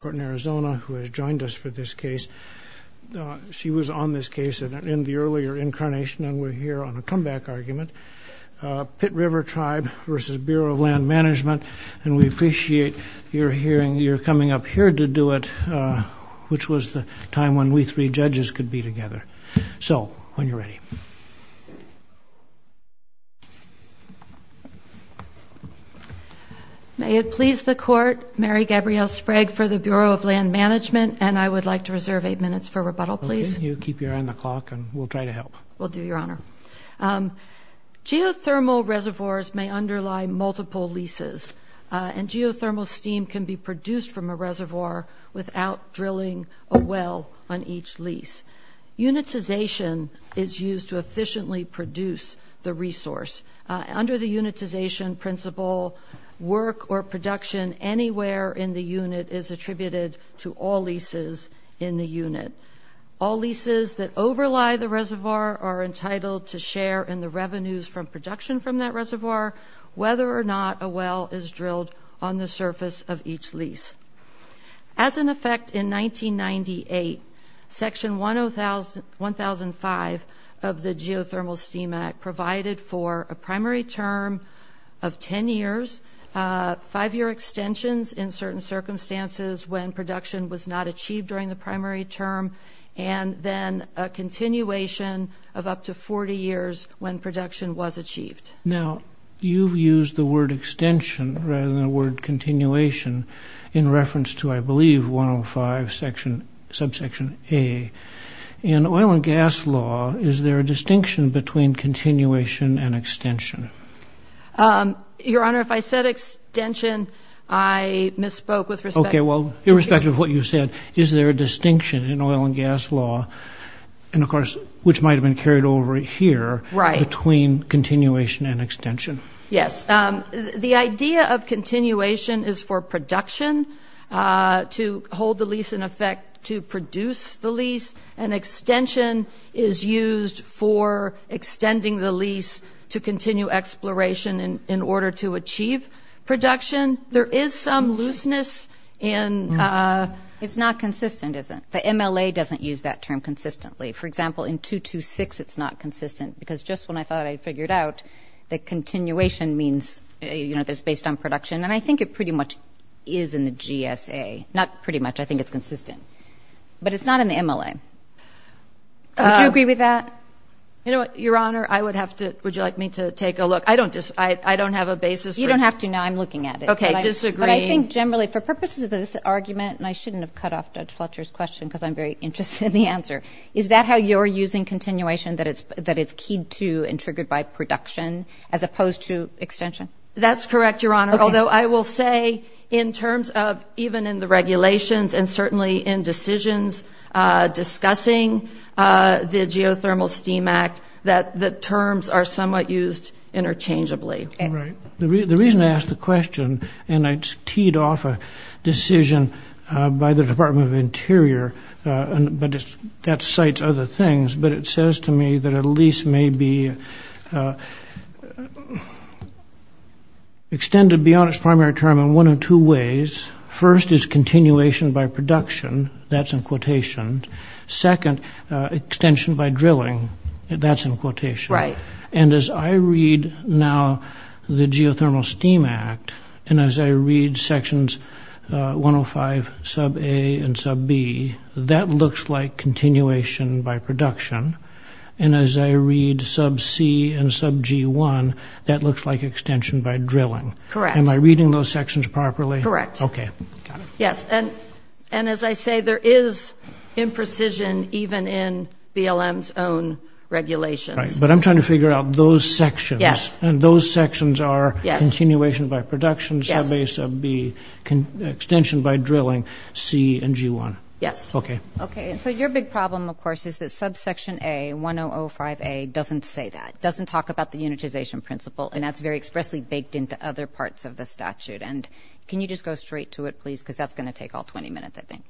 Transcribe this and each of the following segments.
who has joined us for this case. Pit River Tribe v. Bureau of Land Management, when we three judges could be together. So, when you're ready. May it please the Court, Mary Gabrielle Sprague for the Bureau of Land Management, and I would like to reserve eight minutes for rebuttal, please. Well, can you keep your eye on the clock and we'll try to help. Will do, Your Honor. Geothermal reservoirs may underlie multiple leases, and geothermal steam can be produced from a reservoir without drilling a well on each lease. Unitization is used to efficiently produce the resource. Under the unitization principle, work or production anywhere in the unit is attributed to all leases in the unit. All leases that overlie the reservoir are entitled to share in the revenues from production from that reservoir, whether or not a well is drilled on the surface of each lease. As an effect, in 1998, Section 1005 of the Geothermal Steam Act provided for a primary term of 10 years, five-year extensions in certain circumstances when production was not achieved during the primary term, and then a continuation of up to 40 years when production was achieved. Now, you've used the word extension rather than the word continuation in reference to, I believe, 105 subsection A. In oil and gas law, is there a distinction between continuation and extension? Your Honor, if I said extension, I misspoke with respect to... Okay, well, irrespective of what you said, is there a distinction in oil and gas law, and of course, which might have been carried over here... Right. ...between continuation and extension? Yes. The idea of continuation is for production to hold the lease in effect to produce the lease, and extension is used for extending the lease to continue exploration in order to achieve production. There is some looseness in... It's not consistent, is it? The MLA doesn't use that term consistently. For example, in 226, it's not consistent because just when I thought I'd figured out that continuation means, you know, that it's based on production, and I think it pretty much is in the GSA. Not pretty much. I think it's consistent. But it's not in the MLA. Would you agree with that? You know what, Your Honor, I would have to... Would you like me to take a look? I don't have a basis for... You don't have to. No, I'm looking at it. Okay, disagreeing. But I think generally, for purposes of this argument, and I shouldn't have cut off Judge Fletcher's question because I'm very interested in the answer, is that how you're using continuation, that it's keyed to and triggered by production as opposed to extension? That's correct, Your Honor, although I will say in terms of even in the regulations and certainly in decisions discussing the Geothermal Steam Act that the terms are somewhat used interchangeably. Right. The reason I ask the question, and it's teed off a decision by the Department of Interior, but that cites other things, but it says to me that a lease may be extended beyond its primary term in one of two ways. First is continuation by production. That's in quotation. Second, extension by drilling. That's in quotation. Right. And as I read now the Geothermal Steam Act and as I read Sections 105, Sub-A and Sub-B, that looks like continuation by production. And as I read Sub-C and Sub-G-1, that looks like extension by drilling. Correct. Am I reading those sections properly? Correct. Okay. Got it. Yes, and as I say, there is imprecision even in BLM's own regulations. Right. But I'm trying to figure out those sections. Yes. And those sections are continuation by production, Sub-A, Sub-B, extension by drilling, C and G-1. Yes. Okay. Okay. And so your big problem, of course, is that Subsection A, 1005A, doesn't say that, doesn't talk about the unitization principle, and that's very expressly baked into other parts of the statute. And can you just go straight to it, please, because that's going to take all 20 minutes, I think.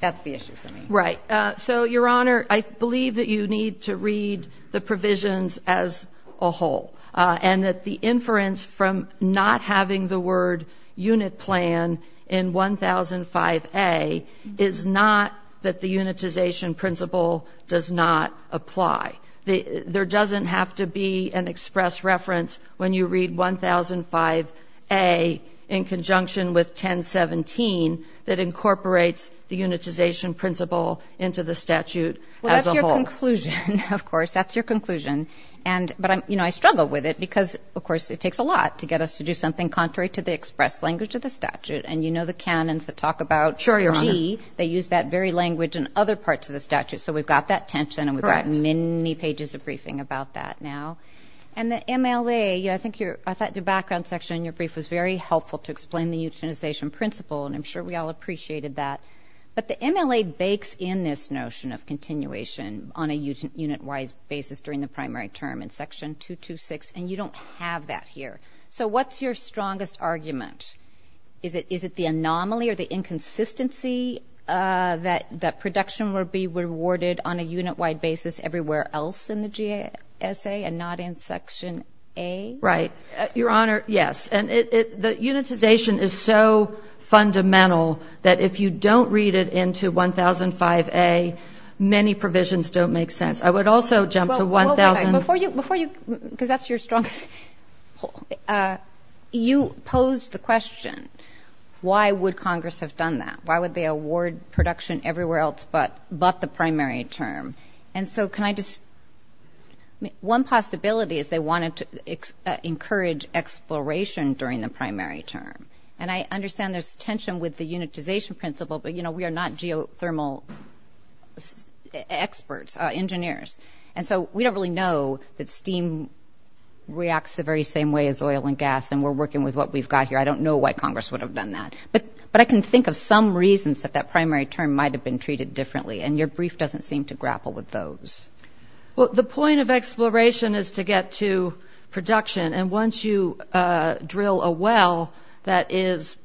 That's the issue for me. Right. So, Your Honor, I believe that you need to read the provisions as a whole and that the inference from not having the word unit plan in 1005A is not that the unitization principle does not apply. There doesn't have to be an express reference when you read 1005A in conjunction with 1017 that incorporates the unitization principle into the statute as a whole. Well, that's your conclusion, of course. That's your conclusion. But, you know, I struggle with it because, of course, it takes a lot to get us to do something contrary to the express language of the statute. And you know the canons that talk about G. Sure, Your Honor. They use that very language in other parts of the statute. So we've got that tension and we've got many pages of briefing about that now. And the MLA, I thought your background section in your brief was very helpful to explain the unitization principle, and I'm sure we all appreciated that. But the MLA bakes in this notion of continuation on a unit-wise basis during the primary term in Section 226, and you don't have that here. So what's your strongest argument? Is it the anomaly or the inconsistency that production will be rewarded on a unit-wide basis everywhere else in the GSA and not in Section A? Right. Your Honor, yes. And the unitization is so fundamental that if you don't read it into 1005A, many provisions don't make sense. I would also jump to 1005A. Before you, because that's your strongest, you posed the question, why would Congress have done that? Why would they award production everywhere else but the primary term? And so can I just ---- One possibility is they wanted to encourage exploration during the primary term. And I understand there's tension with the unitization principle, but, you know, we are not geothermal experts, engineers. And so we don't really know that steam reacts the very same way as oil and gas, and we're working with what we've got here. I don't know why Congress would have done that. But I can think of some reasons that that primary term might have been treated differently, and your brief doesn't seem to grapple with those. Well, the point of exploration is to get to production. And once you drill a well that is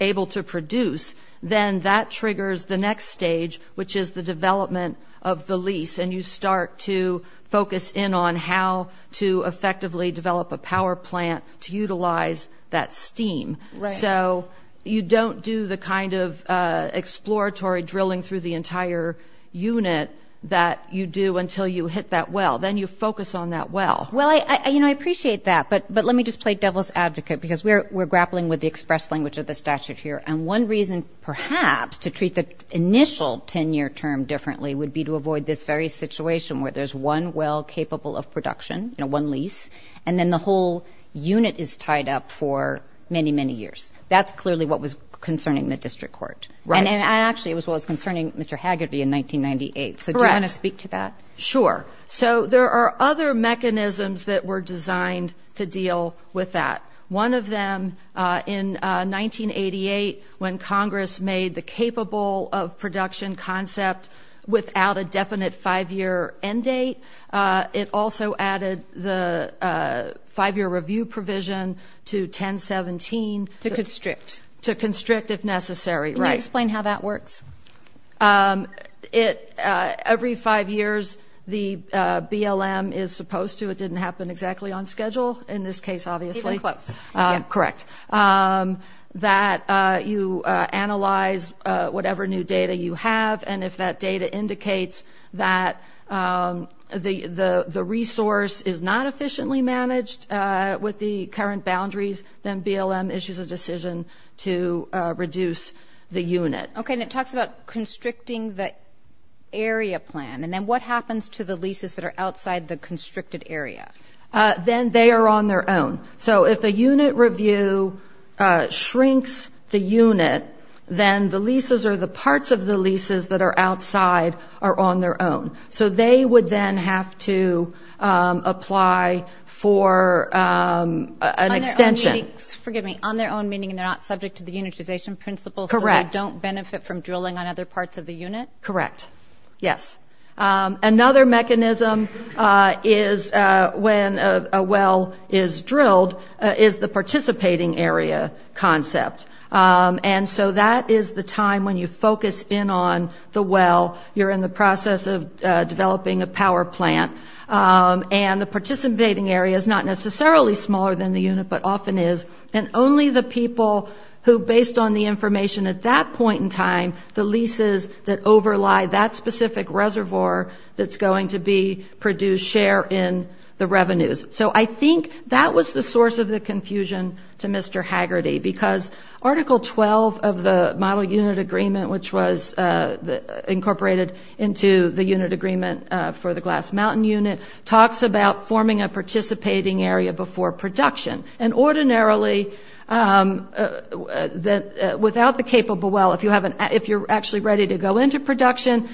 able to produce, then that triggers the next stage, which is the development of the lease, and you start to focus in on how to effectively develop a power plant to utilize that steam. Right. And so you don't do the kind of exploratory drilling through the entire unit that you do until you hit that well. Then you focus on that well. Well, you know, I appreciate that, but let me just play devil's advocate because we're grappling with the express language of the statute here. And one reason perhaps to treat the initial 10-year term differently would be to avoid this very situation where there's one well capable of production, you know, one lease, and then the whole unit is tied up for many, many years. That's clearly what was concerning the district court. Right. And actually it was concerning Mr. Haggerty in 1998. Correct. So do you want to speak to that? Sure. So there are other mechanisms that were designed to deal with that. One of them in 1988 when Congress made the capable of production concept without a definite 5-year end date, it also added the 5-year review provision to 1017. To constrict. To constrict if necessary. Right. Can you explain how that works? Every five years the BLM is supposed to, it didn't happen exactly on schedule in this case, obviously. Even close. Correct. that you analyze whatever new data you have, and if that data indicates that the resource is not efficiently managed with the current boundaries, then BLM issues a decision to reduce the unit. Okay, and it talks about constricting the area plan. And then what happens to the leases that are outside the constricted area? Then they are on their own. So if a unit review shrinks the unit, then the leases or the parts of the leases that are outside are on their own. So they would then have to apply for an extension. On their own meaning, and they're not subject to the unitization principle. Correct. So they don't benefit from drilling on other parts of the unit? Correct. Yes. Another mechanism is when a well is drilled is the participating area concept. And so that is the time when you focus in on the well. You're in the process of developing a power plant. And the participating area is not necessarily smaller than the unit, but often is. And only the people who, based on the information at that point in time, the leases that overlie that specific reservoir that's going to be produced share in the revenues. So I think that was the source of the confusion to Mr. Haggerty, because Article 12 of the Model Unit Agreement, which was incorporated into the unit agreement for the Glass Mountain unit, talks about forming a participating area before production. And ordinarily, without the capable well, if you're actually ready to go into production,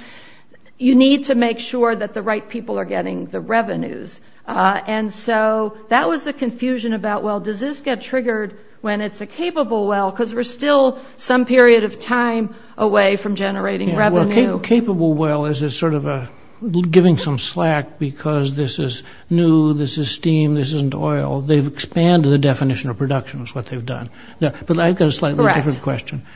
you need to make sure that the right people are getting the revenues. And so that was the confusion about, well, does this get triggered when it's a capable well? Because we're still some period of time away from generating revenue. Well, a capable well is sort of giving some slack because this is new, this is steam, this isn't oil. They've expanded the definition of production is what they've done. But I've got a slightly different question.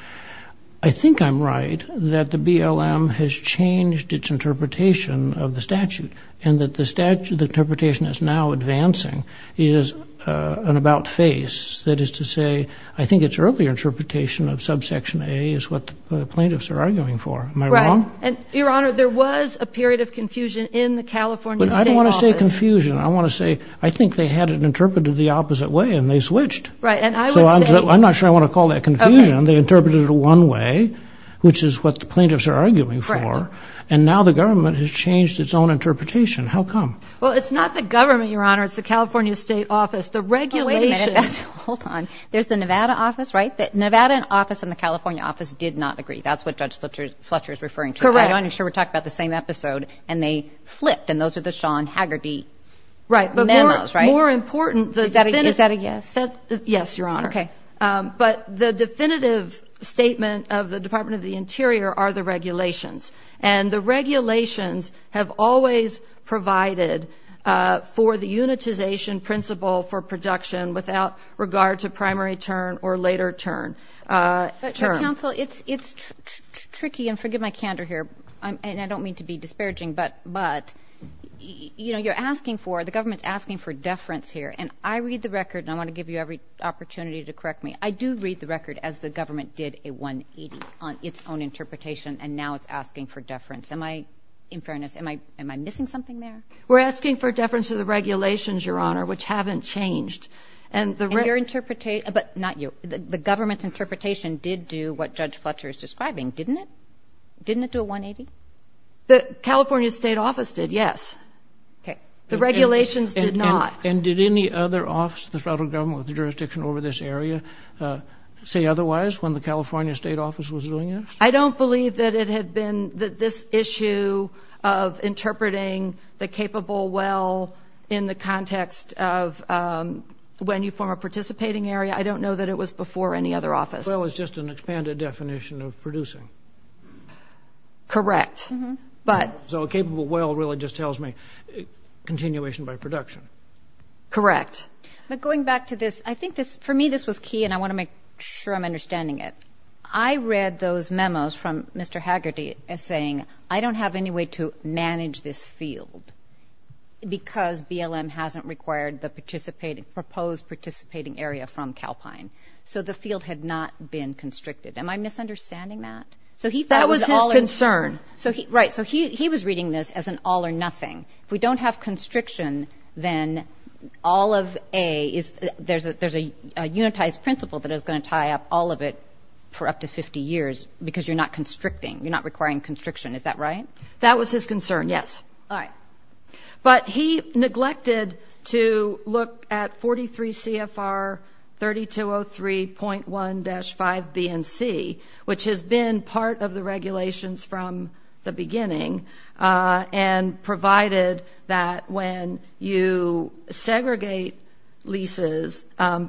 I think I'm right that the BLM has changed its interpretation of the statute, and that the interpretation that's now advancing is an about face. That is to say, I think its earlier interpretation of subsection A is what the plaintiffs are arguing for. Am I wrong? Your Honor, there was a period of confusion in the California State Office. I don't want to say confusion. I want to say I think they had it interpreted the opposite way, and they switched. So I'm not sure I want to call that confusion. They interpreted it one way, which is what the plaintiffs are arguing for. And now the government has changed its own interpretation. How come? Well, it's not the government, Your Honor. It's the California State Office. The regulation. Wait a minute. Hold on. There's the Nevada office, right? The Nevada office and the California office did not agree. That's what Judge Fletcher is referring to. Correct. I'm sure we're talking about the same episode. And they flipped, and those are the Sean Haggerty memos, right? Right. Is that a yes? Yes, Your Honor. Okay. But the definitive statement of the Department of the Interior are the regulations. And the regulations have always provided for the unitization principle for production without regard to primary term or later term. Counsel, it's tricky, and forgive my candor here, and I don't mean to be disparaging, but, you know, you're asking for, the government's asking for deference here. And I read the record, and I want to give you every opportunity to correct me. I do read the record as the government did a 180 on its own interpretation, and now it's asking for deference. Am I, in fairness, am I missing something there? We're asking for deference to the regulations, Your Honor, which haven't changed. And your interpretation, but not you. The government's interpretation did do what Judge Fletcher is describing, didn't it? Didn't it do a 180? The California State Office did, yes. Okay. The regulations did not. And did any other office of the federal government with jurisdiction over this area say otherwise when the California State Office was doing this? I don't believe that it had been this issue of interpreting the capable well in the context of when you form a participating area. I don't know that it was before any other office. Well is just an expanded definition of producing. Correct. So a capable well really just tells me continuation by production. Correct. But going back to this, I think for me this was key, and I want to make sure I'm understanding it. I read those memos from Mr. Haggerty as saying I don't have any way to manage this field because BLM hasn't required the proposed participating area from Calpine. So the field had not been constricted. Am I misunderstanding that? That was his concern. Right. So he was reading this as an all or nothing. If we don't have constriction, then all of A, there's a unitized principle that is going to tie up all of it for up to 50 years because you're not constricting. You're not requiring constriction. That was his concern, yes. All right. But he neglected to look at 43 CFR 3203.1-5 BNC, which has been part of the regulations from the beginning and provided that when you segregate leases,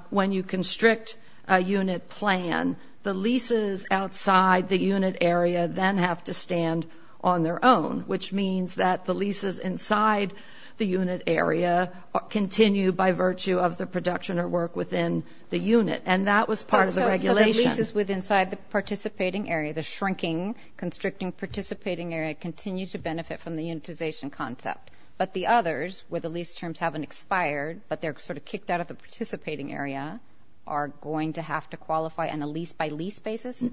when you constrict a unit plan, the leases outside the unit area then have to stand on their own, which means that the leases inside the unit area continue by virtue of the production or work within the unit. And that was part of the regulation. So the leases inside the participating area, the shrinking constricting participating area, continue to benefit from the unitization concept, but the others, where the lease terms haven't expired but they're sort of kicked out of the participating area, are going to have to qualify on a lease-by-lease basis?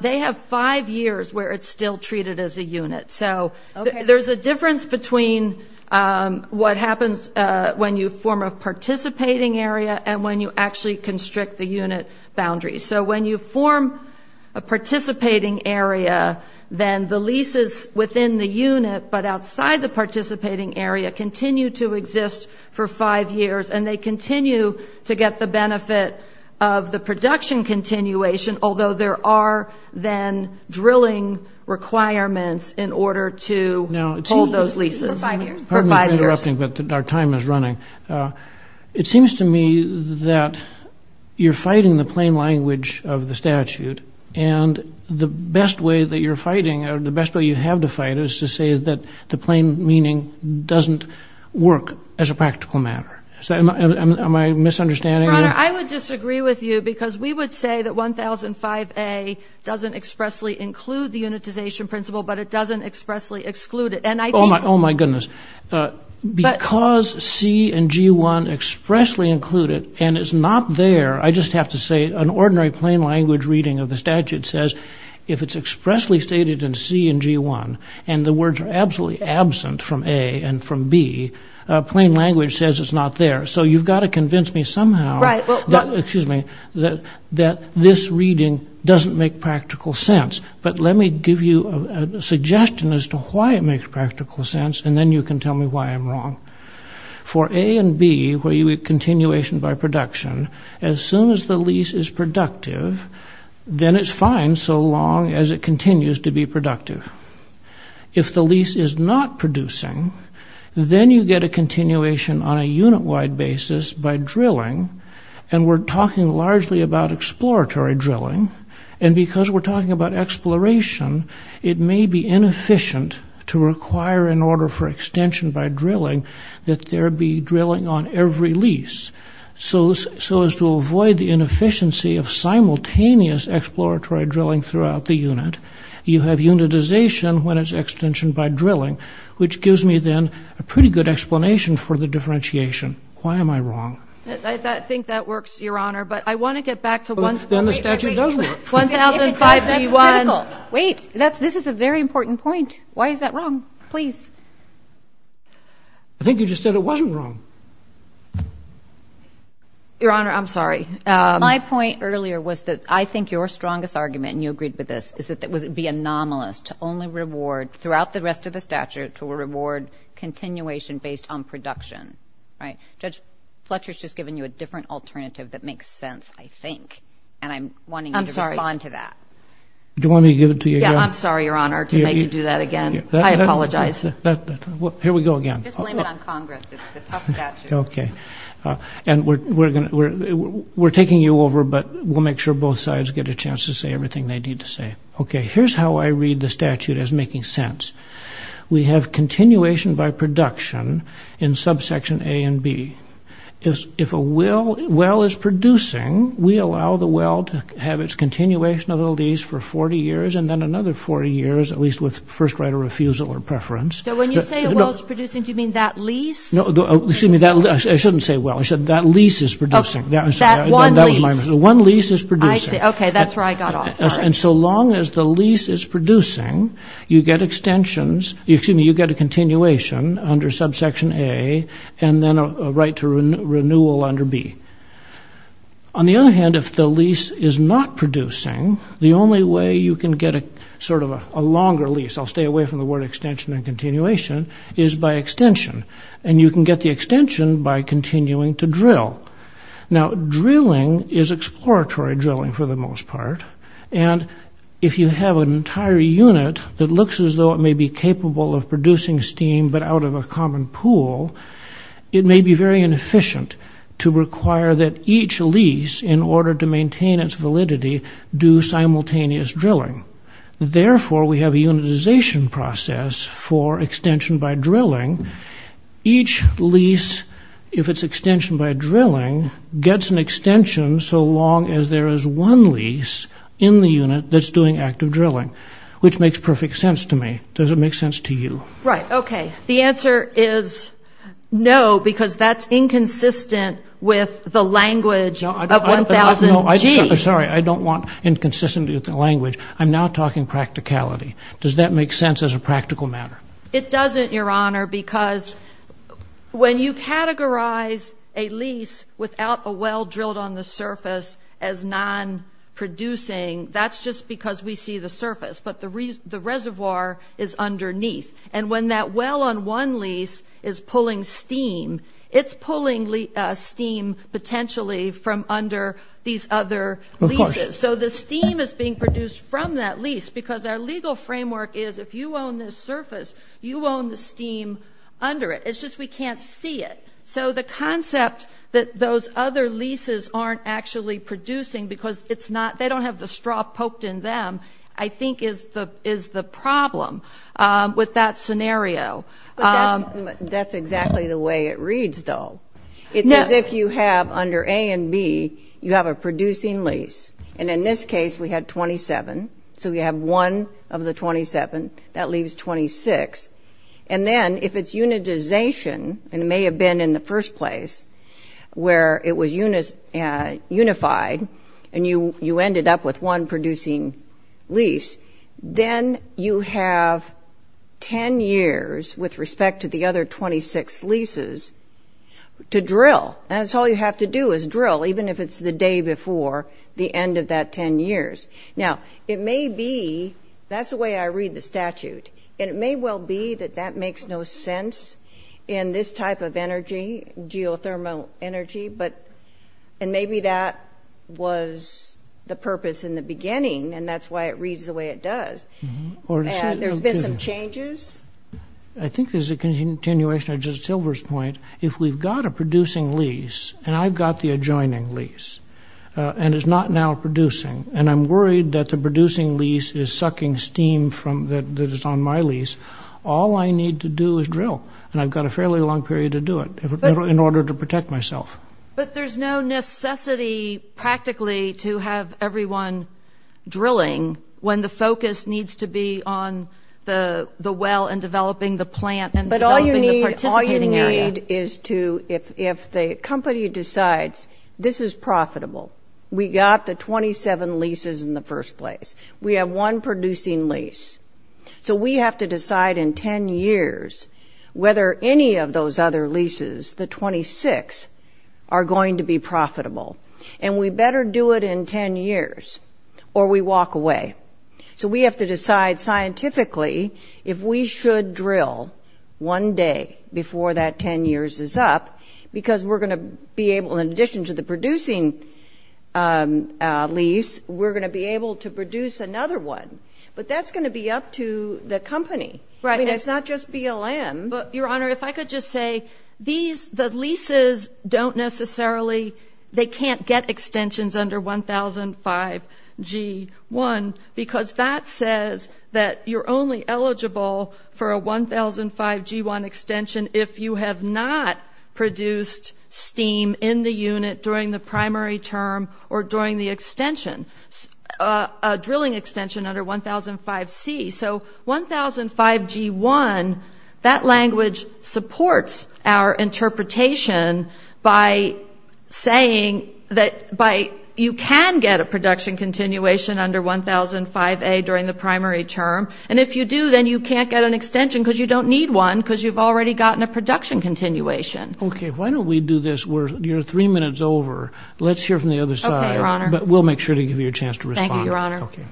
They have five years where it's still treated as a unit. So there's a difference between what happens when you form a participating area and when you actually constrict the unit boundaries. So when you form a participating area, then the leases within the unit but outside the participating area continue to exist for five years, and they continue to get the benefit of the production continuation, although there are then drilling requirements in order to hold those leases. For five years? For five years. Pardon me for interrupting, but our time is running. It seems to me that you're fighting the plain language of the statute, and the best way that you're fighting or the best way you have to fight is to say that the plain meaning doesn't work as a practical matter. Am I misunderstanding you? Your Honor, I would disagree with you because we would say that 1005A doesn't expressly include the unitization principle but it doesn't expressly exclude it. Oh, my goodness. Because C and G1 expressly include it and it's not there, I just have to say an ordinary plain language reading of the statute says if it's expressly stated in C and G1 and the words are absolutely absent from A and from B, plain language says it's not there. So you've got to convince me somehow that this reading doesn't make practical sense. But let me give you a suggestion as to why it makes practical sense and then you can tell me why I'm wrong. For A and B, where you have continuation by production, as soon as the lease is productive, then it's fine so long as it continues to be productive. If the lease is not producing, then you get a continuation on a unit-wide basis by drilling and we're talking largely about exploratory drilling and because we're talking about exploration, it may be inefficient to require an order for extension by drilling that there be drilling on every lease. So as to avoid the inefficiency of simultaneous exploratory drilling throughout the unit, you have unitization when it's extension by drilling, which gives me then a pretty good explanation for the differentiation. Why am I wrong? I think that works, Your Honor. But I want to get back to one thing. Then the statute does work. Wait. This is a very important point. Why is that wrong? Please. I think you just said it wasn't wrong. Your Honor, I'm sorry. My point earlier was that I think your strongest argument, and you agreed with this, is that it would be anomalous to only reward throughout the rest of the statute to reward continuation based on production, right? Judge Fletcher has just given you a different alternative that makes sense, I think, and I'm wanting you to respond to that. I'm sorry. Do you want me to give it to you again? Yeah, I'm sorry, Your Honor, to make you do that again. I apologize. Here we go again. Just blame it on Congress. It's a tough statute. Okay. We're taking you over, but we'll make sure both sides get a chance to say everything they need to say. Okay. Here's how I read the statute as making sense. We have continuation by production in subsection A and B. If a well is producing, we allow the well to have its continuation of the lease for 40 years and then another 40 years, at least with first right of refusal or preference. So when you say a well is producing, do you mean that lease? No. Excuse me. I shouldn't say well. I said that lease is producing. That was my mistake. That one lease. The one lease is producing. I see. Okay. That's where I got off. Sorry. And so long as the lease is producing, you get extensions. Excuse me. You get a continuation under subsection A and then a right to renewal under B. On the other hand, if the lease is not producing, the only way you can get sort of a longer lease, I'll stay away from the word extension and continuation, is by extension. And you can get the extension by continuing to drill. Now, drilling is exploratory drilling for the most part, and if you have an entire unit that looks as though it may be capable of producing steam but out of a common pool, it may be very inefficient to require that each lease, in order to maintain its validity, do simultaneous drilling. Therefore, we have a unitization process for extension by drilling. Each lease, if it's extension by drilling, gets an extension so long as there is one lease in the unit that's doing active drilling, which makes perfect sense to me. Does it make sense to you? Right. Okay. The answer is no because that's inconsistent with the language of 1000G. I'm sorry. I don't want inconsistency with the language. I'm now talking practicality. Does that make sense as a practical matter? It doesn't, Your Honor, because when you categorize a lease without a well drilled on the surface as non-producing, that's just because we see the surface, but the reservoir is underneath. And when that well on one lease is pulling steam, it's pulling steam potentially from under these other leases. Of course. So the steam is being produced from that lease because our legal framework is, if you own this surface, you own the steam under it. It's just we can't see it. So the concept that those other leases aren't actually producing because they don't have the straw poked in them, I think is the problem with that scenario. That's exactly the way it reads, though. It's as if you have under A and B, you have a producing lease. And in this case, we had 27. So we have one of the 27. That leaves 26. And then if it's unitization, and it may have been in the first place where it was unified and you ended up with one producing lease, then you have 10 years with respect to the other 26 leases to drill. And that's all you have to do is drill, even if it's the day before the end of that 10 years. Now, it may be, that's the way I read the statute, and it may well be that that makes no sense in this type of energy, geothermal energy. And maybe that was the purpose in the beginning, and that's why it reads the way it does. There's been some changes. I think there's a continuation of Justice Silver's point. If we've got a producing lease, and I've got the adjoining lease, and it's not now producing, and I'm worried that the producing lease is sucking steam that is on my lease, all I need to do is drill. And I've got a fairly long period to do it in order to protect myself. But there's no necessity practically to have everyone drilling when the focus needs to be on the well and developing the plant and developing the participating area. But all you need is to, if the company decides this is profitable, we got the 27 leases in the first place, we have one producing lease, so we have to decide in 10 years whether any of those other leases, the 26, are going to be profitable. And we better do it in 10 years or we walk away. So we have to decide scientifically if we should drill one day before that 10 years is up, because we're going to be able, in addition to the producing lease, we're going to be able to produce another one. But that's going to be up to the company. I mean, it's not just BLM. Your Honor, if I could just say, these, the leases don't necessarily, they can't get extensions under 1005G1 because that says that you're only eligible for a 1005G1 extension if you have not produced steam in the unit during the primary term or during the extension, a drilling extension under 1005C. So 1005G1, that language supports our interpretation by saying that you can get a production continuation under 1005A during the primary term. And if you do, then you can't get an extension because you don't need one because you've already gotten a production continuation. Okay. Why don't we do this? You're three minutes over. Let's hear from the other side. Okay, Your Honor. But we'll make sure to give you a chance to respond. Thank you, Your Honor. Okay.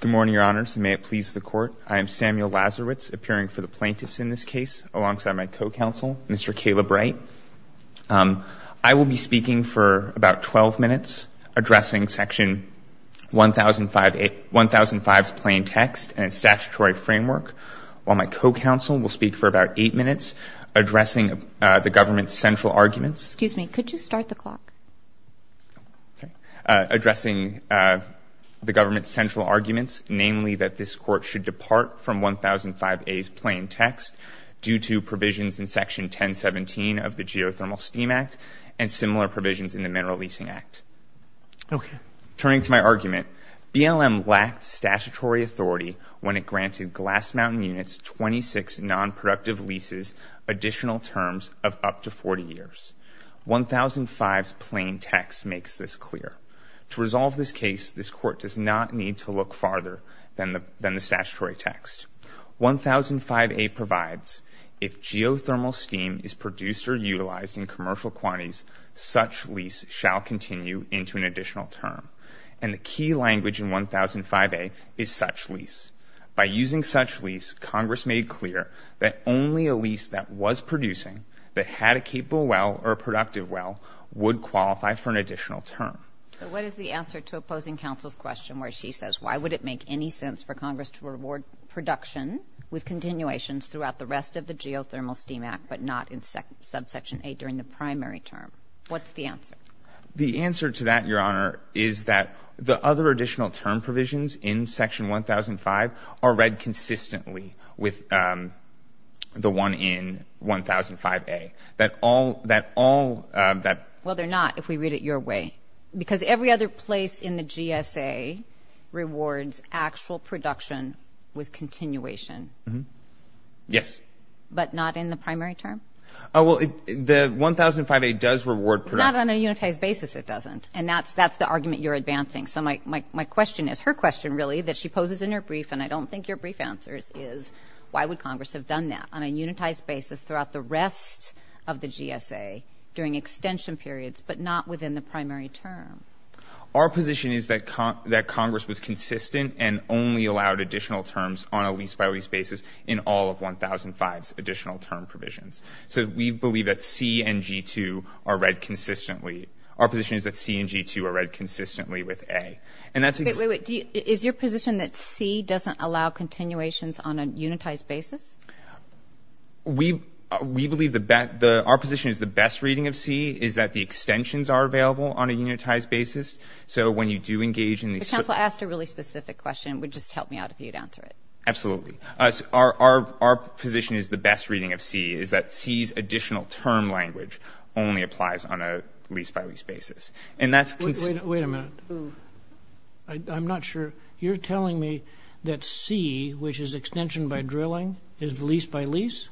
Good morning, Your Honors, and may it please the Court. I am Samuel Lazarowitz, appearing for the plaintiffs in this case alongside my co-counsel, Mr. Caleb Wright. I will be speaking for about 12 minutes addressing Section 1005's plain text and statutory framework, while my co-counsel will speak for about eight minutes addressing the government's central arguments. Excuse me. Could you start the clock? Okay. Addressing the government's central arguments, namely that this Court should depart from 1005A's plain text due to provisions in Section 1017 of the Geothermal Steam Act and similar provisions in the Mineral Leasing Act. Okay. Turning to my argument, BLM lacked statutory authority when it granted Glass Mountain Units 26 nonproductive leases additional terms of up to 40 years. 1005's plain text makes this clear. To resolve this case, this Court does not need to look farther than the statutory text. 1005A provides, if geothermal steam is produced or utilized in commercial quantities, such lease shall continue into an additional term. And the key language in 1005A is such lease. By using such lease, Congress made clear that only a lease that was producing, that had a capable well or a productive well, would qualify for an additional term. What is the answer to opposing counsel's question where she says, why would it make any sense for Congress to reward production with continuations throughout the rest of the Geothermal Steam Act but not in subsection A during the primary term? What's the answer? The answer to that, Your Honor, is that the other additional term provisions in Section 1005 are read consistently with the one in 1005A. That all, that all, that. Well, they're not if we read it your way. Because every other place in the GSA rewards actual production with continuation. Yes. But not in the primary term? Well, the 1005A does reward production. Not on a unitized basis, it doesn't. And that's the argument you're advancing. So my question is, her question, really, that she poses in her brief, and I don't think your brief answer is, why would Congress have done that, on a unitized basis throughout the rest of the GSA during extension periods but not within the primary term? Our position is that Congress was consistent and only allowed additional terms on a lease-by-lease basis in all of 1005's additional term provisions. So we believe that C and G2 are read consistently. Our position is that C and G2 are read consistently with A. Wait, wait, wait. Is your position that C doesn't allow continuations on a unitized basis? We believe the best – our position is the best reading of C is that the extensions are available on a unitized basis. So when you do engage in these – The council asked a really specific question. It would just help me out if you'd answer it. Absolutely. Our position is the best reading of C is that C's additional term language only applies on a lease-by-lease basis. And that's – Wait a minute. I'm not sure. You're telling me that C, which is extension by drilling, is lease-by-lease?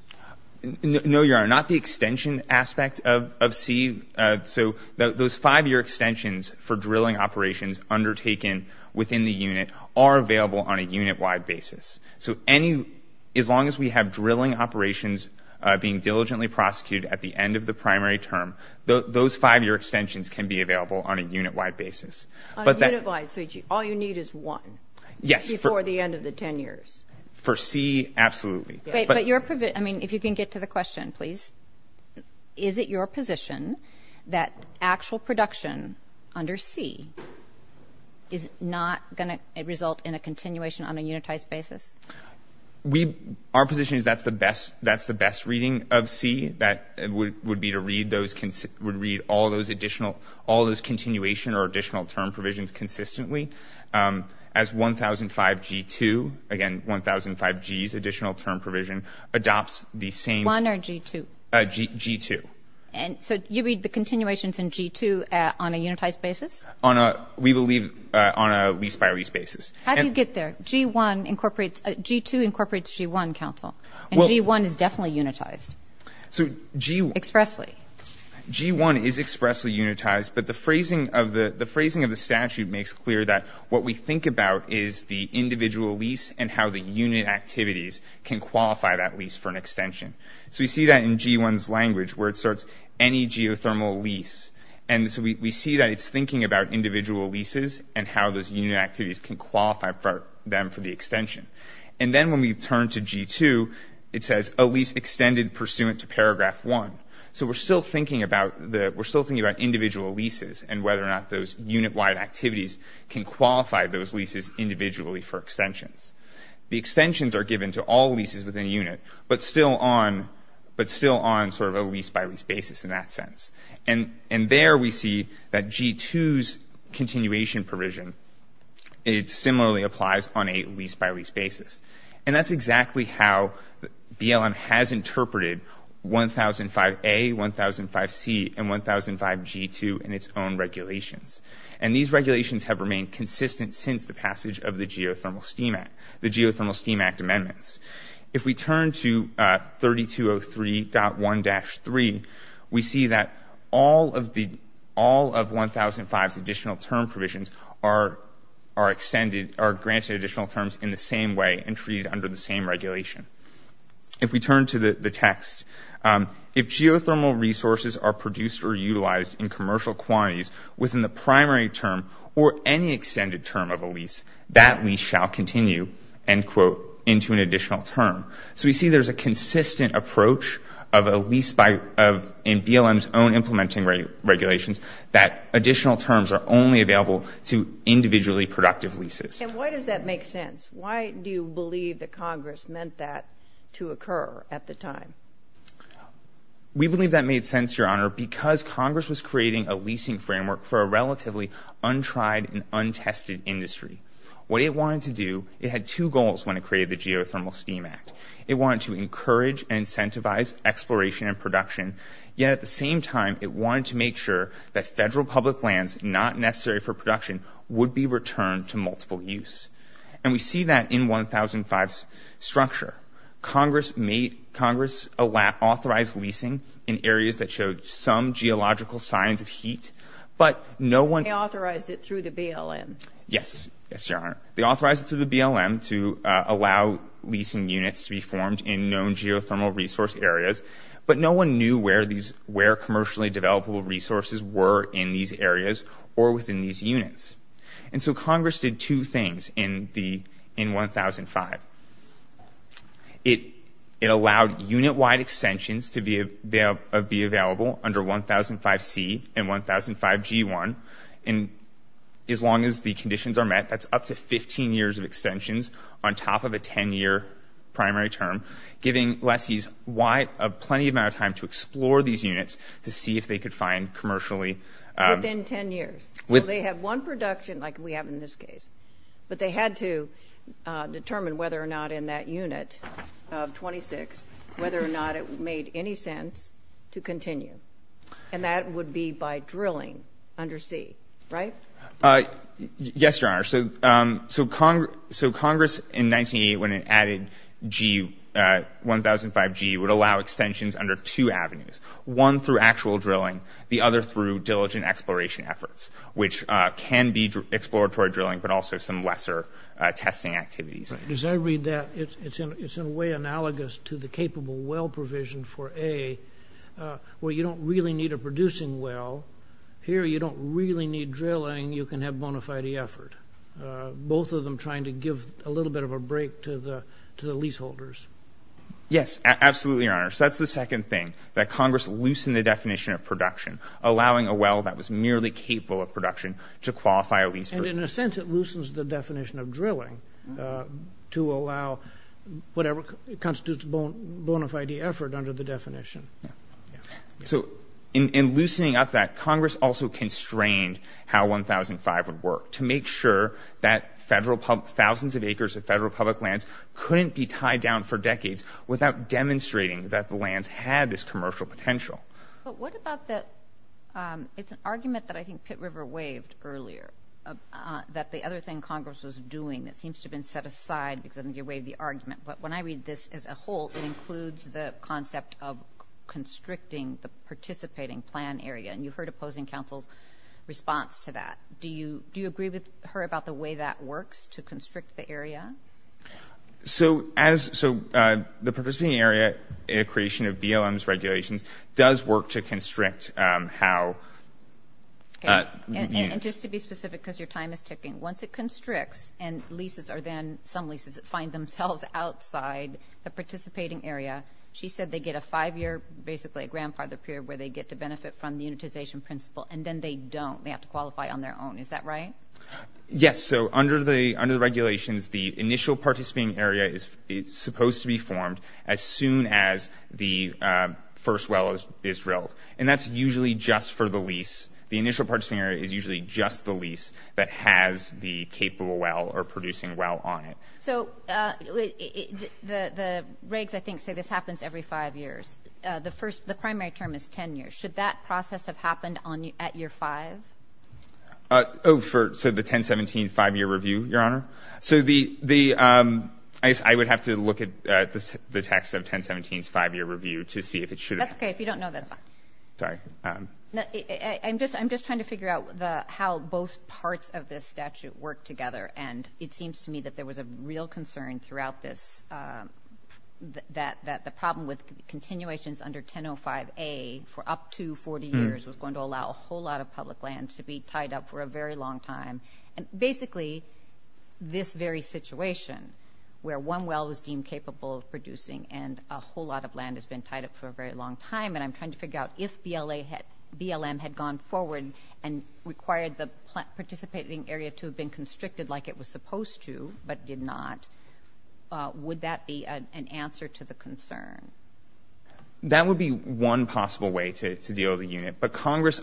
No, Your Honor. Not the extension aspect of C. So those five-year extensions for drilling operations undertaken within the unit are available on a unit-wide basis. So any – as long as we have drilling operations being diligently prosecuted at the end of the primary term, those five-year extensions can be available on a unit-wide basis. On a unit-wide basis. So all you need is one. Yes. Before the end of the 10 years. For C, absolutely. But your – I mean, if you can get to the question, please. Is it your position that actual production under C is not going to result in a continuation on a unitized basis? We – our position is that's the best reading of C. That would be to read those – would read all those additional – all those continuation or additional term provisions consistently. As 1005G2, again, 1005G's additional term provision, adopts the same – 1 or G2? G2. And so you read the continuations in G2 on a unitized basis? On a – we believe on a lease-by-lease basis. How do you get there? G1 incorporates – G2 incorporates G1, counsel. And G1 is definitely unitized. So G1 – Expressly. G1 is expressly unitized, but the phrasing of the – the phrasing of the statute makes clear that what we think about is the individual lease and how the unit activities can qualify that lease for an extension. So we see that in G1's language where it starts any geothermal lease. And so we see that it's thinking about individual leases and how those unit activities can qualify for them for the extension. And then when we turn to G2, it says, a lease extended pursuant to paragraph 1. So we're still thinking about the – we're still thinking about individual leases and whether or not those unit-wide activities can qualify those leases individually for extensions. The extensions are given to all leases within a unit, but still on – but still on sort of a lease-by-lease basis in that sense. And there we see that G2's continuation provision, it similarly applies on a lease-by-lease basis. And that's exactly how BLM has interpreted 1005A, 1005C, and 1005G2 in its own regulations. And these regulations have remained consistent since the passage of the Geothermal Steam Act – the Geothermal Steam Act amendments. If we turn to 3203.1-3, we see that all of the – are extended – are granted additional terms in the same way and treated under the same regulation. If we turn to the text, if geothermal resources are produced or utilized in commercial quantities within the primary term or any extended term of a lease, that lease shall continue, end quote, into an additional term. So we see there's a consistent approach of a lease by – in BLM's own implementing regulations, that additional terms are only available to individually productive leases. And why does that make sense? Why do you believe that Congress meant that to occur at the time? We believe that made sense, Your Honor, because Congress was creating a leasing framework for a relatively untried and untested industry. What it wanted to do – it had two goals when it created the Geothermal Steam Act. It wanted to encourage and incentivize exploration and production, yet at the same time, it wanted to make sure that federal public lands not necessary for production would be returned to multiple use. And we see that in 1005's structure. Congress made – Congress authorized leasing in areas that showed some geological signs of heat, but no one – They authorized it through the BLM. Yes. Yes, Your Honor. They authorized it through the BLM to allow leasing units to be formed in known geothermal resource areas, but no one knew where these – where commercially developable resources were in these areas or within these units. And so Congress did two things in the – in 1005. It allowed unit-wide extensions to be available under 1005C and 1005G1, and as long as the conditions are met, that's up to 15 years of extensions on top of a 10-year primary term, giving lessees a plenty amount of time to explore these units to see if they could find commercially – Within 10 years. So they have one production, like we have in this case, but they had to determine whether or not in that unit of 26, whether or not it made any sense to continue. And that would be by drilling under C, right? Yes, Your Honor. So Congress, in 1908, when it added G – 1005G, would allow extensions under two avenues, one through actual drilling, the other through diligent exploration efforts, which can be exploratory drilling but also some lesser testing activities. As I read that, it's in a way analogous to the capable well provision for A, where you don't really need a producing well. Here, you don't really need drilling. You can have bona fide effort, both of them trying to give a little bit of a break to the leaseholders. Yes, absolutely, Your Honor. So that's the second thing, that Congress loosened the definition of production, allowing a well that was merely capable of production to qualify a lease. And in a sense, it loosens the definition of drilling to allow whatever constitutes bona fide effort under the definition. So in loosening up that, Congress also constrained how 1005 would work to make sure that thousands of acres of federal public lands couldn't be tied down for decades without demonstrating that the lands had this commercial potential. But what about the – it's an argument that I think Pitt River waved earlier, that the other thing Congress was doing that seems to have been set aside because of the way of the argument. But when I read this as a whole, it includes the concept of constricting the participating plan area. And you heard opposing counsel's response to that. Do you agree with her about the way that works to constrict the area? So the participating area in a creation of BLM's regulations does work to constrict how – And just to be specific because your time is ticking, once it constricts and leases are then – outside the participating area, she said they get a five-year, basically a grandfather period, where they get to benefit from the unitization principle. And then they don't. They have to qualify on their own. Is that right? Yes. So under the regulations, the initial participating area is supposed to be formed as soon as the first well is drilled. And that's usually just for the lease. The initial participating area is usually just the lease that has the capable well or producing well on it. So the regs, I think, say this happens every five years. The primary term is 10 years. Should that process have happened at year five? Oh, so the 1017 five-year review, Your Honor? So I would have to look at the text of 1017's five-year review to see if it should have. That's okay. If you don't know, that's fine. Sorry. I'm just trying to figure out how both parts of this statute work together. And it seems to me that there was a real concern throughout this that the problem with continuations under 1005A for up to 40 years was going to allow a whole lot of public land to be tied up for a very long time. And basically this very situation where one well was deemed capable of producing and a whole lot of land has been tied up for a very long time, and I'm trying to figure out if BLM had gone forward and required the participating area to have been constricted like it was supposed to but did not, would that be an answer to the concern? That would be one possible way to deal with the unit. But Congress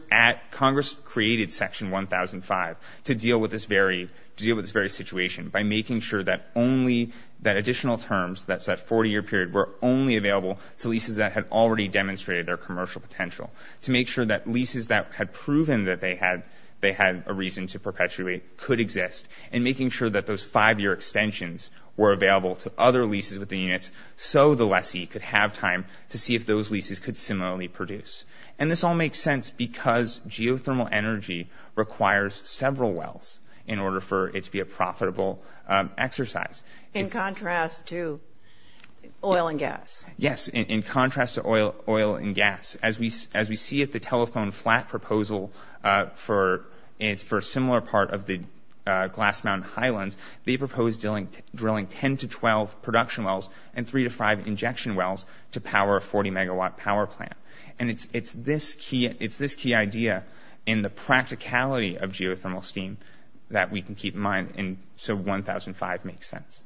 created Section 1005 to deal with this very situation by making sure that only that additional terms, that 40-year period, were only available to leases that had already demonstrated their commercial potential, to make sure that leases that had proven that they had a reason to perpetuate could exist, and making sure that those five-year extensions were available to other leases within units so the lessee could have time to see if those leases could similarly produce. And this all makes sense because geothermal energy requires several wells in order for it to be a profitable exercise. In contrast to oil and gas. Yes, in contrast to oil and gas. As we see at the telephone flat proposal for a similar part of the Glass Mountain Highlands, they proposed drilling 10 to 12 production wells and 3 to 5 injection wells to power a 40-megawatt power plant. And it's this key idea in the practicality of geothermal steam that we can keep in mind, and so 1005 makes sense.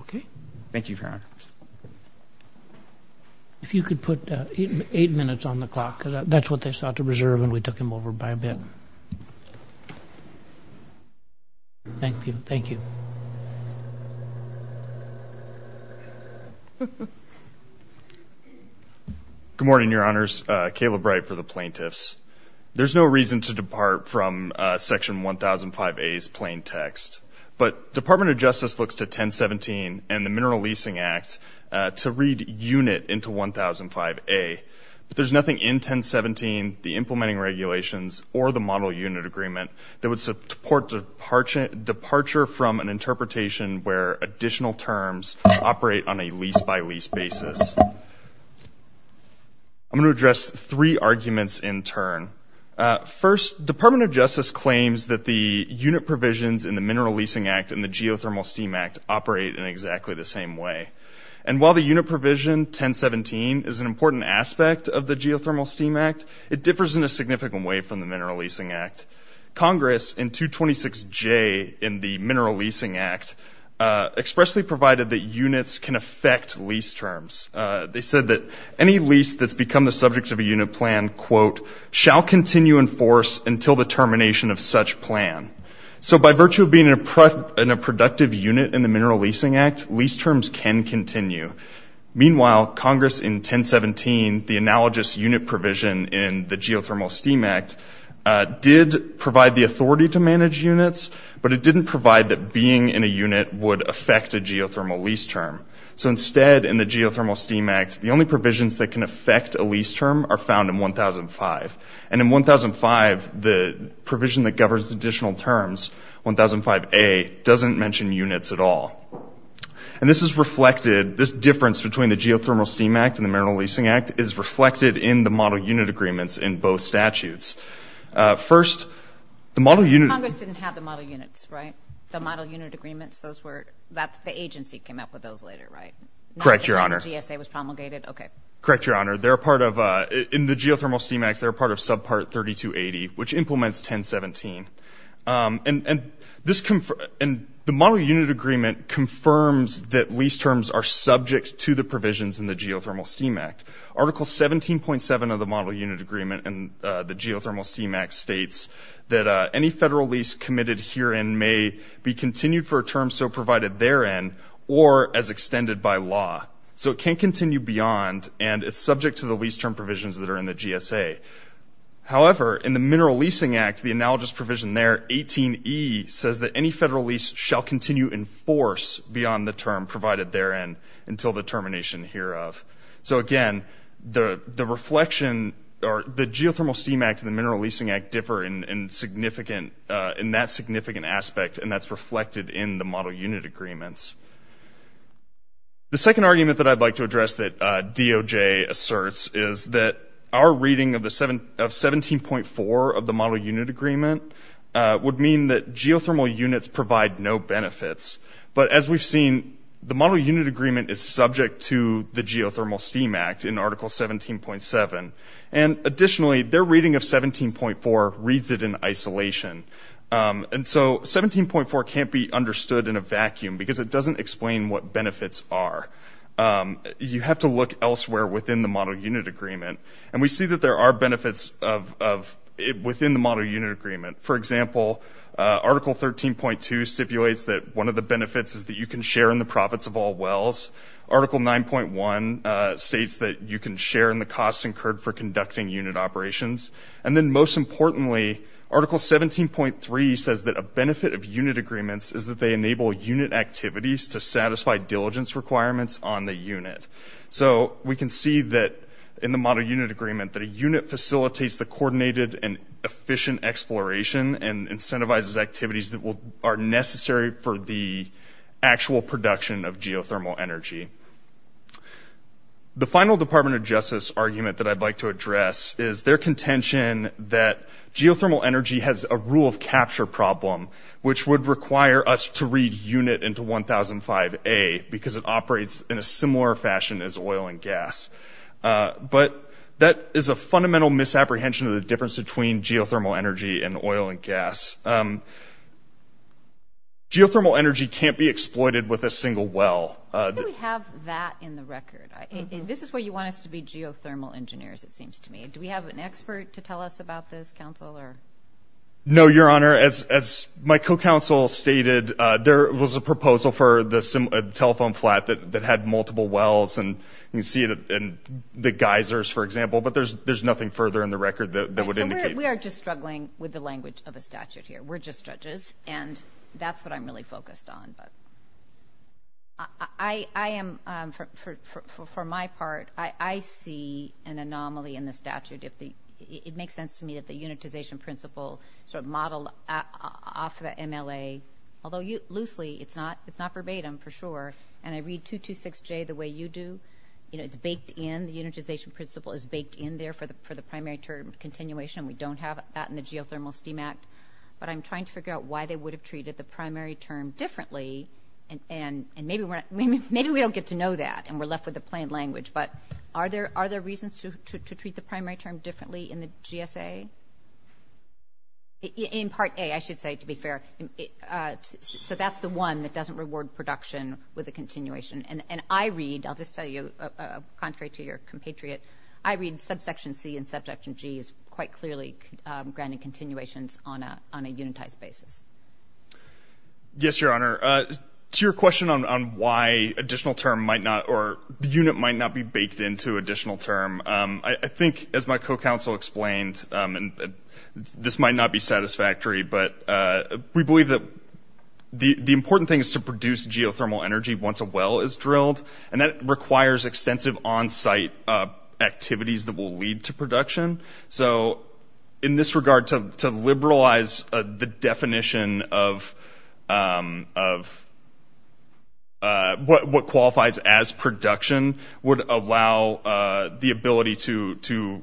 Okay. Thank you, Your Honor. If you could put eight minutes on the clock, because that's what they sought to preserve and we took them over by a bit. Thank you. Thank you. Good morning, Your Honors. Caleb Wright for the plaintiffs. There's no reason to depart from Section 1005A's plain text, but Department of Justice looks to 1017 and the Mineral Leasing Act to read unit into 1005A. But there's nothing in 1017, the implementing regulations, or the model unit agreement that would support departure from an interpretation where additional terms operate on a lease-by-lease basis. I'm going to address three arguments in turn. First, Department of Justice claims that the unit provisions in the Mineral Leasing Act and the Geothermal Steam Act operate in exactly the same way. And while the unit provision 1017 is an important aspect of the Geothermal Steam Act, it differs in a significant way from the Mineral Leasing Act. Congress in 226J in the Mineral Leasing Act expressly provided that units can affect lease terms. They said that any lease that's become the subject of a unit plan, quote, shall continue in force until the termination of such plan. So by virtue of being in a productive unit in the Mineral Leasing Act, lease terms can continue. Meanwhile, Congress in 1017, the analogous unit provision in the Geothermal Steam Act, did provide the authority to manage units, but it didn't provide that being in a unit would affect a geothermal lease term. So instead, in the Geothermal Steam Act, the only provisions that can affect a lease term are found in 1005. And in 1005, the provision that governs additional terms, 1005A, doesn't mention units at all. And this is reflected, this difference between the Geothermal Steam Act and the Mineral Leasing Act is reflected in the model unit agreements in both statutes. First, the model unit- Congress didn't have the model units, right? The model unit agreements, those were, the agency came up with those later, right? Correct, Your Honor. GSA was promulgated? Okay. Correct, Your Honor. They're a part of, in the Geothermal Steam Act, they're a part of subpart 3280, which implements 1017. And the model unit agreement confirms that lease terms are subject to the provisions in the Geothermal Steam Act. Article 17.7 of the model unit agreement in the Geothermal Steam Act states that any federal lease committed herein may be continued for a term so provided therein or as extended by law. So it can't continue beyond, and it's subject to the lease term provisions that are in the GSA. However, in the Mineral Leasing Act, the analogous provision there, 18E, says that any federal lease shall continue in force beyond the term provided therein until the termination hereof. So, again, the reflection, or the Geothermal Steam Act and the Mineral Leasing Act differ in significant, in that significant aspect, and that's reflected in the model unit agreements. The second argument that I'd like to address that DOJ asserts is that our reading of 17.4 of the model unit agreement would mean that geothermal units provide no benefits. But as we've seen, the model unit agreement is subject to the Geothermal Steam Act in Article 17.7. And additionally, their reading of 17.4 reads it in isolation. And so 17.4 can't be understood in a vacuum because it doesn't explain what benefits are. You have to look elsewhere within the model unit agreement, and we see that there are benefits within the model unit agreement. For example, Article 13.2 stipulates that one of the benefits is that you can share in the profits of all wells. Article 9.1 states that you can share in the costs incurred for conducting unit operations. And then most importantly, Article 17.3 says that a benefit of unit agreements is that they enable unit activities to satisfy diligence requirements on the unit. So we can see that in the model unit agreement that a unit facilitates the coordinated and efficient exploration and incentivizes activities that are necessary for the actual production of geothermal energy. The final Department of Justice argument that I'd like to address is their contention that geothermal energy has a rule of capture problem, which would require us to read unit into 1005A because it operates in a similar fashion as oil and gas. But that is a fundamental misapprehension of the difference between geothermal energy and oil and gas. Geothermal energy can't be exploited with a single well. Why do we have that in the record? This is why you want us to be geothermal engineers, it seems to me. No, Your Honor, as my co-counsel stated, there was a proposal for the telephone flat that had multiple wells, and you can see it in the geysers, for example, but there's nothing further in the record that would indicate that. We are just struggling with the language of a statute here. We're just judges, and that's what I'm really focused on. For my part, I see an anomaly in the statute. It makes sense to me that the unitization principle sort of modeled off the MLA, although loosely it's not verbatim for sure, and I read 226J the way you do. It's baked in. The unitization principle is baked in there for the primary term continuation. We don't have that in the Geothermal Steam Act. But I'm trying to figure out why they would have treated the primary term differently, and maybe we don't get to know that and we're left with the plain language, but are there reasons to treat the primary term differently in the GSA? In Part A, I should say, to be fair, so that's the one that doesn't reward production with a continuation, and I read, I'll just tell you, contrary to your compatriot, I read subsection C and subsection G as quite clearly granting continuations on a unitized basis. Yes, Your Honor. To your question on why additional term might not or the unit might not be baked into additional term, I think, as my co-counsel explained, and this might not be satisfactory, but we believe that the important thing is to produce geothermal energy once a well is drilled, and that requires extensive on-site activities that will lead to production. So in this regard, to liberalize the definition of what qualifies as production would allow the ability to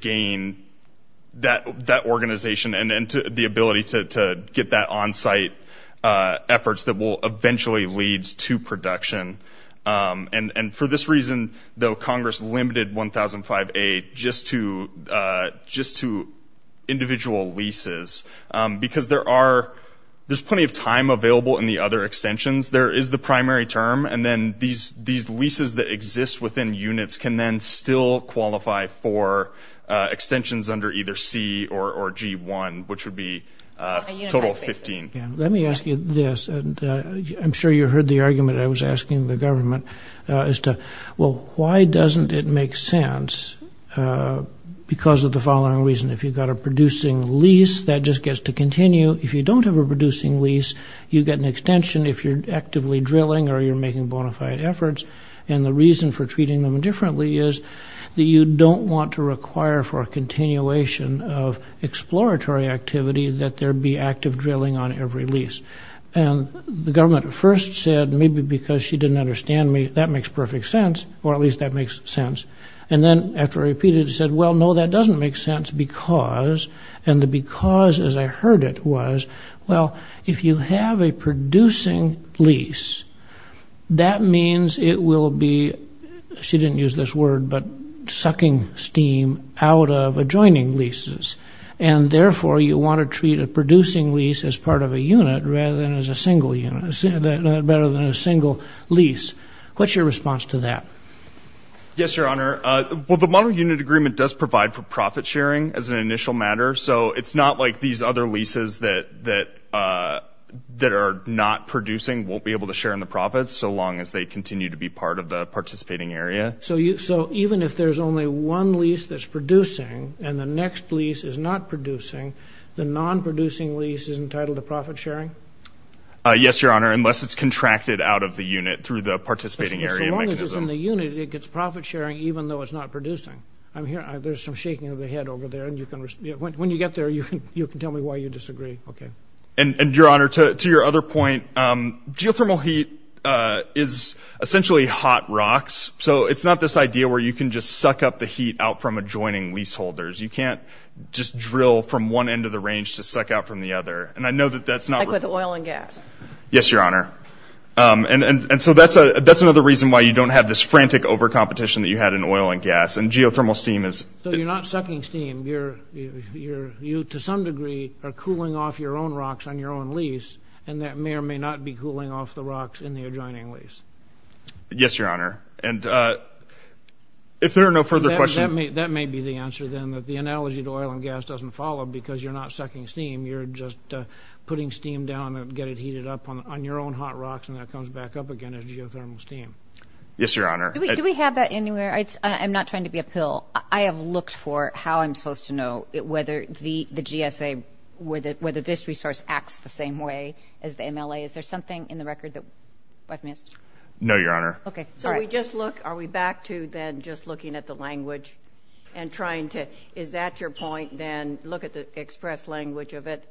gain that organization and the ability to get that on-site efforts that will eventually lead to production. And for this reason, though, Congress limited 1005A just to individual leases, because there's plenty of time available in the other extensions. There is the primary term, and then these leases that exist within units can then still qualify for extensions under either C or G1, which would be a total of 15. Let me ask you this, and I'm sure you heard the argument I was asking the government as to, well, why doesn't it make sense because of the following reason. If you've got a producing lease, that just gets to continue. If you don't have a producing lease, you get an extension if you're actively drilling or you're making bona fide efforts. And the reason for treating them differently is that you don't want to require for a continuation of exploratory activity that there be active drilling on every lease. And the government at first said, maybe because she didn't understand me, that makes perfect sense, or at least that makes sense. And then after I repeated it, it said, well, no, that doesn't make sense because, and the because as I heard it was, well, if you have a producing lease, that means it will be, she didn't use this word, but sucking steam out of adjoining leases, and therefore you want to treat a producing lease as part of a unit rather than as a single unit, rather than a single lease. What's your response to that? Yes, Your Honor. Well, the model unit agreement does provide for profit sharing as an initial matter, so it's not like these other leases that are not producing won't be able to share in the profits, so long as they continue to be part of the participating area. So even if there's only one lease that's producing and the next lease is not producing, the non-producing lease is entitled to profit sharing? Yes, Your Honor, unless it's contracted out of the unit through the participating area mechanism. So long as it's in the unit, it gets profit sharing even though it's not producing. I'm hearing there's some shaking of the head over there, and when you get there, you can tell me why you disagree. Okay. And, Your Honor, to your other point, geothermal heat is essentially hot rocks, so it's not this idea where you can just suck up the heat out from adjoining leaseholders. You can't just drill from one end of the range to suck out from the other, and I know that that's not real. Like with oil and gas. Yes, Your Honor. And so that's another reason why you don't have this frantic overcompetition that you had in oil and gas, and geothermal steam is. So you're not sucking steam. You, to some degree, are cooling off your own rocks on your own lease, and that may or may not be cooling off the rocks in the adjoining lease. Yes, Your Honor. And if there are no further questions. That may be the answer, then, that the analogy to oil and gas doesn't follow because you're not sucking steam. You're just putting steam down and get it heated up on your own hot rocks, and that comes back up again as geothermal steam. Yes, Your Honor. Do we have that anywhere? I'm not trying to be a pill. I have looked for how I'm supposed to know whether the GSA, whether this resource acts the same way as the MLA. Is there something in the record that I've missed? No, Your Honor. Okay. So we just look, are we back to then just looking at the language and trying to, is that your point then, look at the express language of it?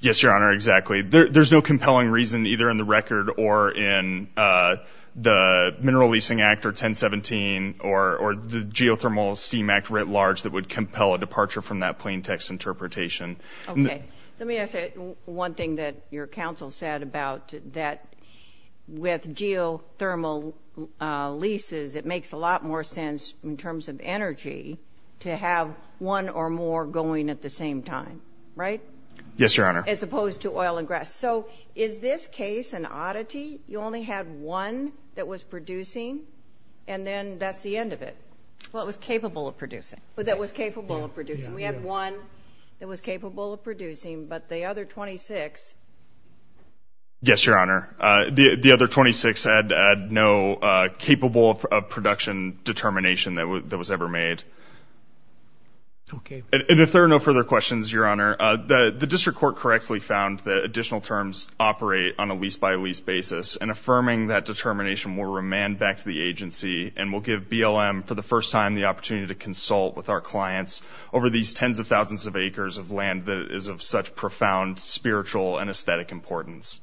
Yes, Your Honor, exactly. There's no compelling reason either in the record or in the Mineral Leasing Act or 1017 or the Geothermal Steam Act writ large that would compel a departure from that plain text interpretation. Okay. Let me ask you one thing that your counsel said about that with geothermal leases, it makes a lot more sense in terms of energy to have one or more going at the same time, right? Yes, Your Honor. As opposed to oil and grass. So is this case an oddity? You only had one that was producing and then that's the end of it. Well, it was capable of producing. That was capable of producing. We had one that was capable of producing, but the other 26. Yes, Your Honor. The other 26 had no capable of production determination that was ever made. Okay. And if there are no further questions, Your Honor, the district court correctly found that additional terms operate on a lease-by-lease basis and affirming that determination will remand back to the agency and will give BLM for the first time the opportunity to consult with our clients over these tens of thousands of acres of land that is of such profound spiritual and aesthetic importance.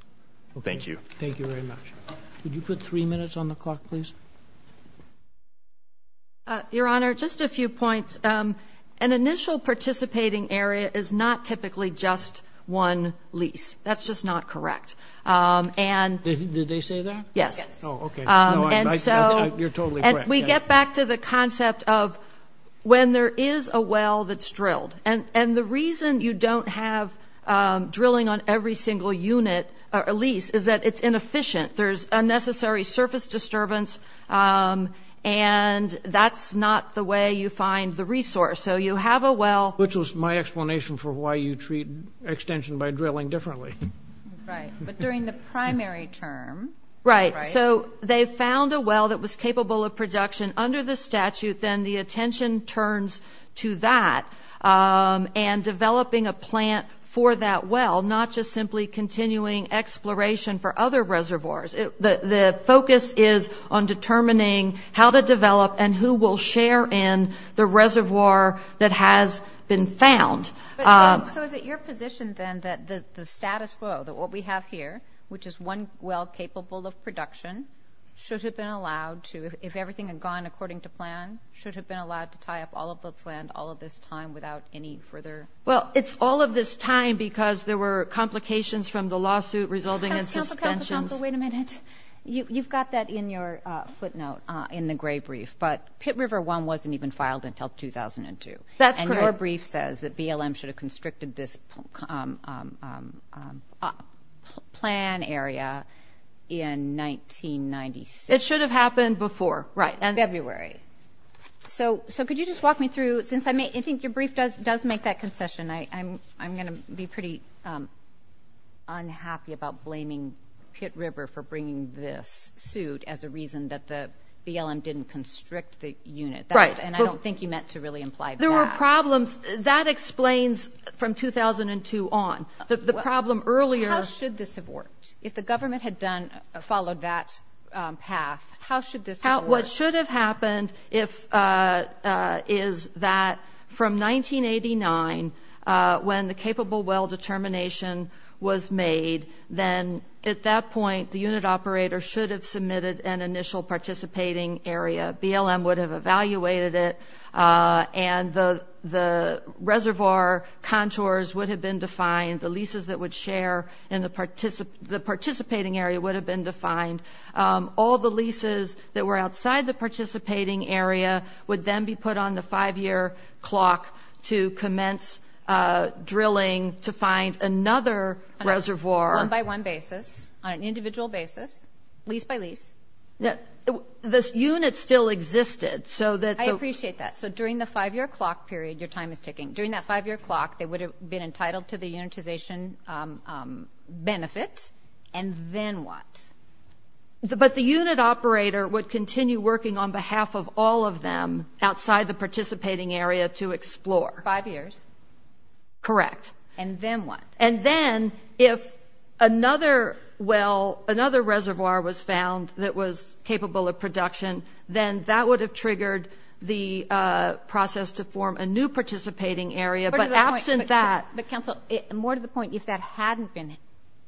Thank you. Thank you very much. Could you put three minutes on the clock, please? Your Honor, just a few points. An initial participating area is not typically just one lease. That's just not correct. Did they say that? Yes. Oh, okay. You're totally correct. We get back to the concept of when there is a well that's drilled. And the reason you don't have drilling on every single unit or lease is that it's inefficient. There's unnecessary surface disturbance, and that's not the way you find the resource. So you have a well. Which was my explanation for why you treat extension by drilling differently. Right. But during the primary term. Right. So they found a well that was capable of production under the statute. Then the attention turns to that and developing a plant for that well, not just simply continuing exploration for other reservoirs. The focus is on determining how to develop and who will share in the reservoir that has been found. So is it your position, then, that the status quo, that what we have here, which is one well capable of production, should have been allowed to, if everything had gone according to plan, should have been allowed to tie up all of this land, all of this time, without any further? Well, it's all of this time because there were complications from the lawsuit resulting in suspensions. Wait a minute. You've got that in your footnote in the gray brief. But Pit River One wasn't even filed until 2002. That's correct. And your brief says that BLM should have constricted this plan area in 1996. It should have happened before. Right. In February. So could you just walk me through, since I think your brief does make that concession, I'm going to be pretty unhappy about blaming Pit River for bringing this suit as a reason that the BLM didn't constrict the unit. And I don't think you meant to really imply that. There were problems. That explains, from 2002 on, the problem earlier. How should this have worked? If the government had followed that path, how should this have worked? Well, what should have happened is that from 1989, when the capable well determination was made, then at that point the unit operator should have submitted an initial participating area. BLM would have evaluated it, and the reservoir contours would have been defined. The leases that would share in the participating area would have been defined. All the leases that were outside the participating area would then be put on the five-year clock to commence drilling to find another reservoir. On a one-by-one basis, on an individual basis, lease-by-lease. The unit still existed. I appreciate that. So during the five-year clock period, your time is ticking. During that five-year clock, they would have been entitled to the unitization benefit. And then what? But the unit operator would continue working on behalf of all of them outside the participating area to explore. Five years. Correct. And then what? And then if another well, another reservoir was found that was capable of production, then that would have triggered the process to form a new participating area. But, Counsel, more to the point, if that hadn't been,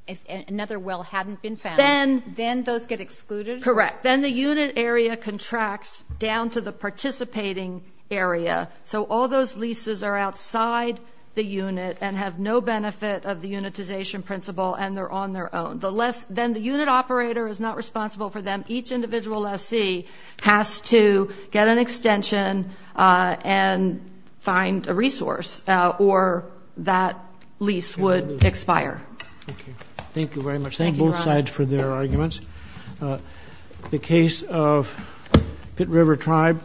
if another well hadn't been found, then those get excluded? Correct. Then the unit area contracts down to the participating area. So all those leases are outside the unit and have no benefit of the unitization principle, and they're on their own. Then the unit operator is not responsible for them. Each individual lessee has to get an extension and find a resource, or that lease would expire. Thank you very much. Thank both sides for their arguments. The case of Pitt River Tribe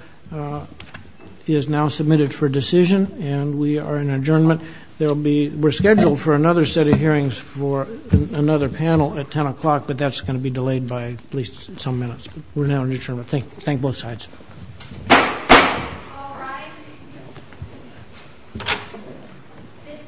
is now submitted for decision, and we are in adjournment. There will be, we're scheduled for another set of hearings for another panel at 10 o'clock, but that's going to be delayed by at least some minutes. We're now in adjournment. Thank both sides. All rise. This court for discussion stands adjourned.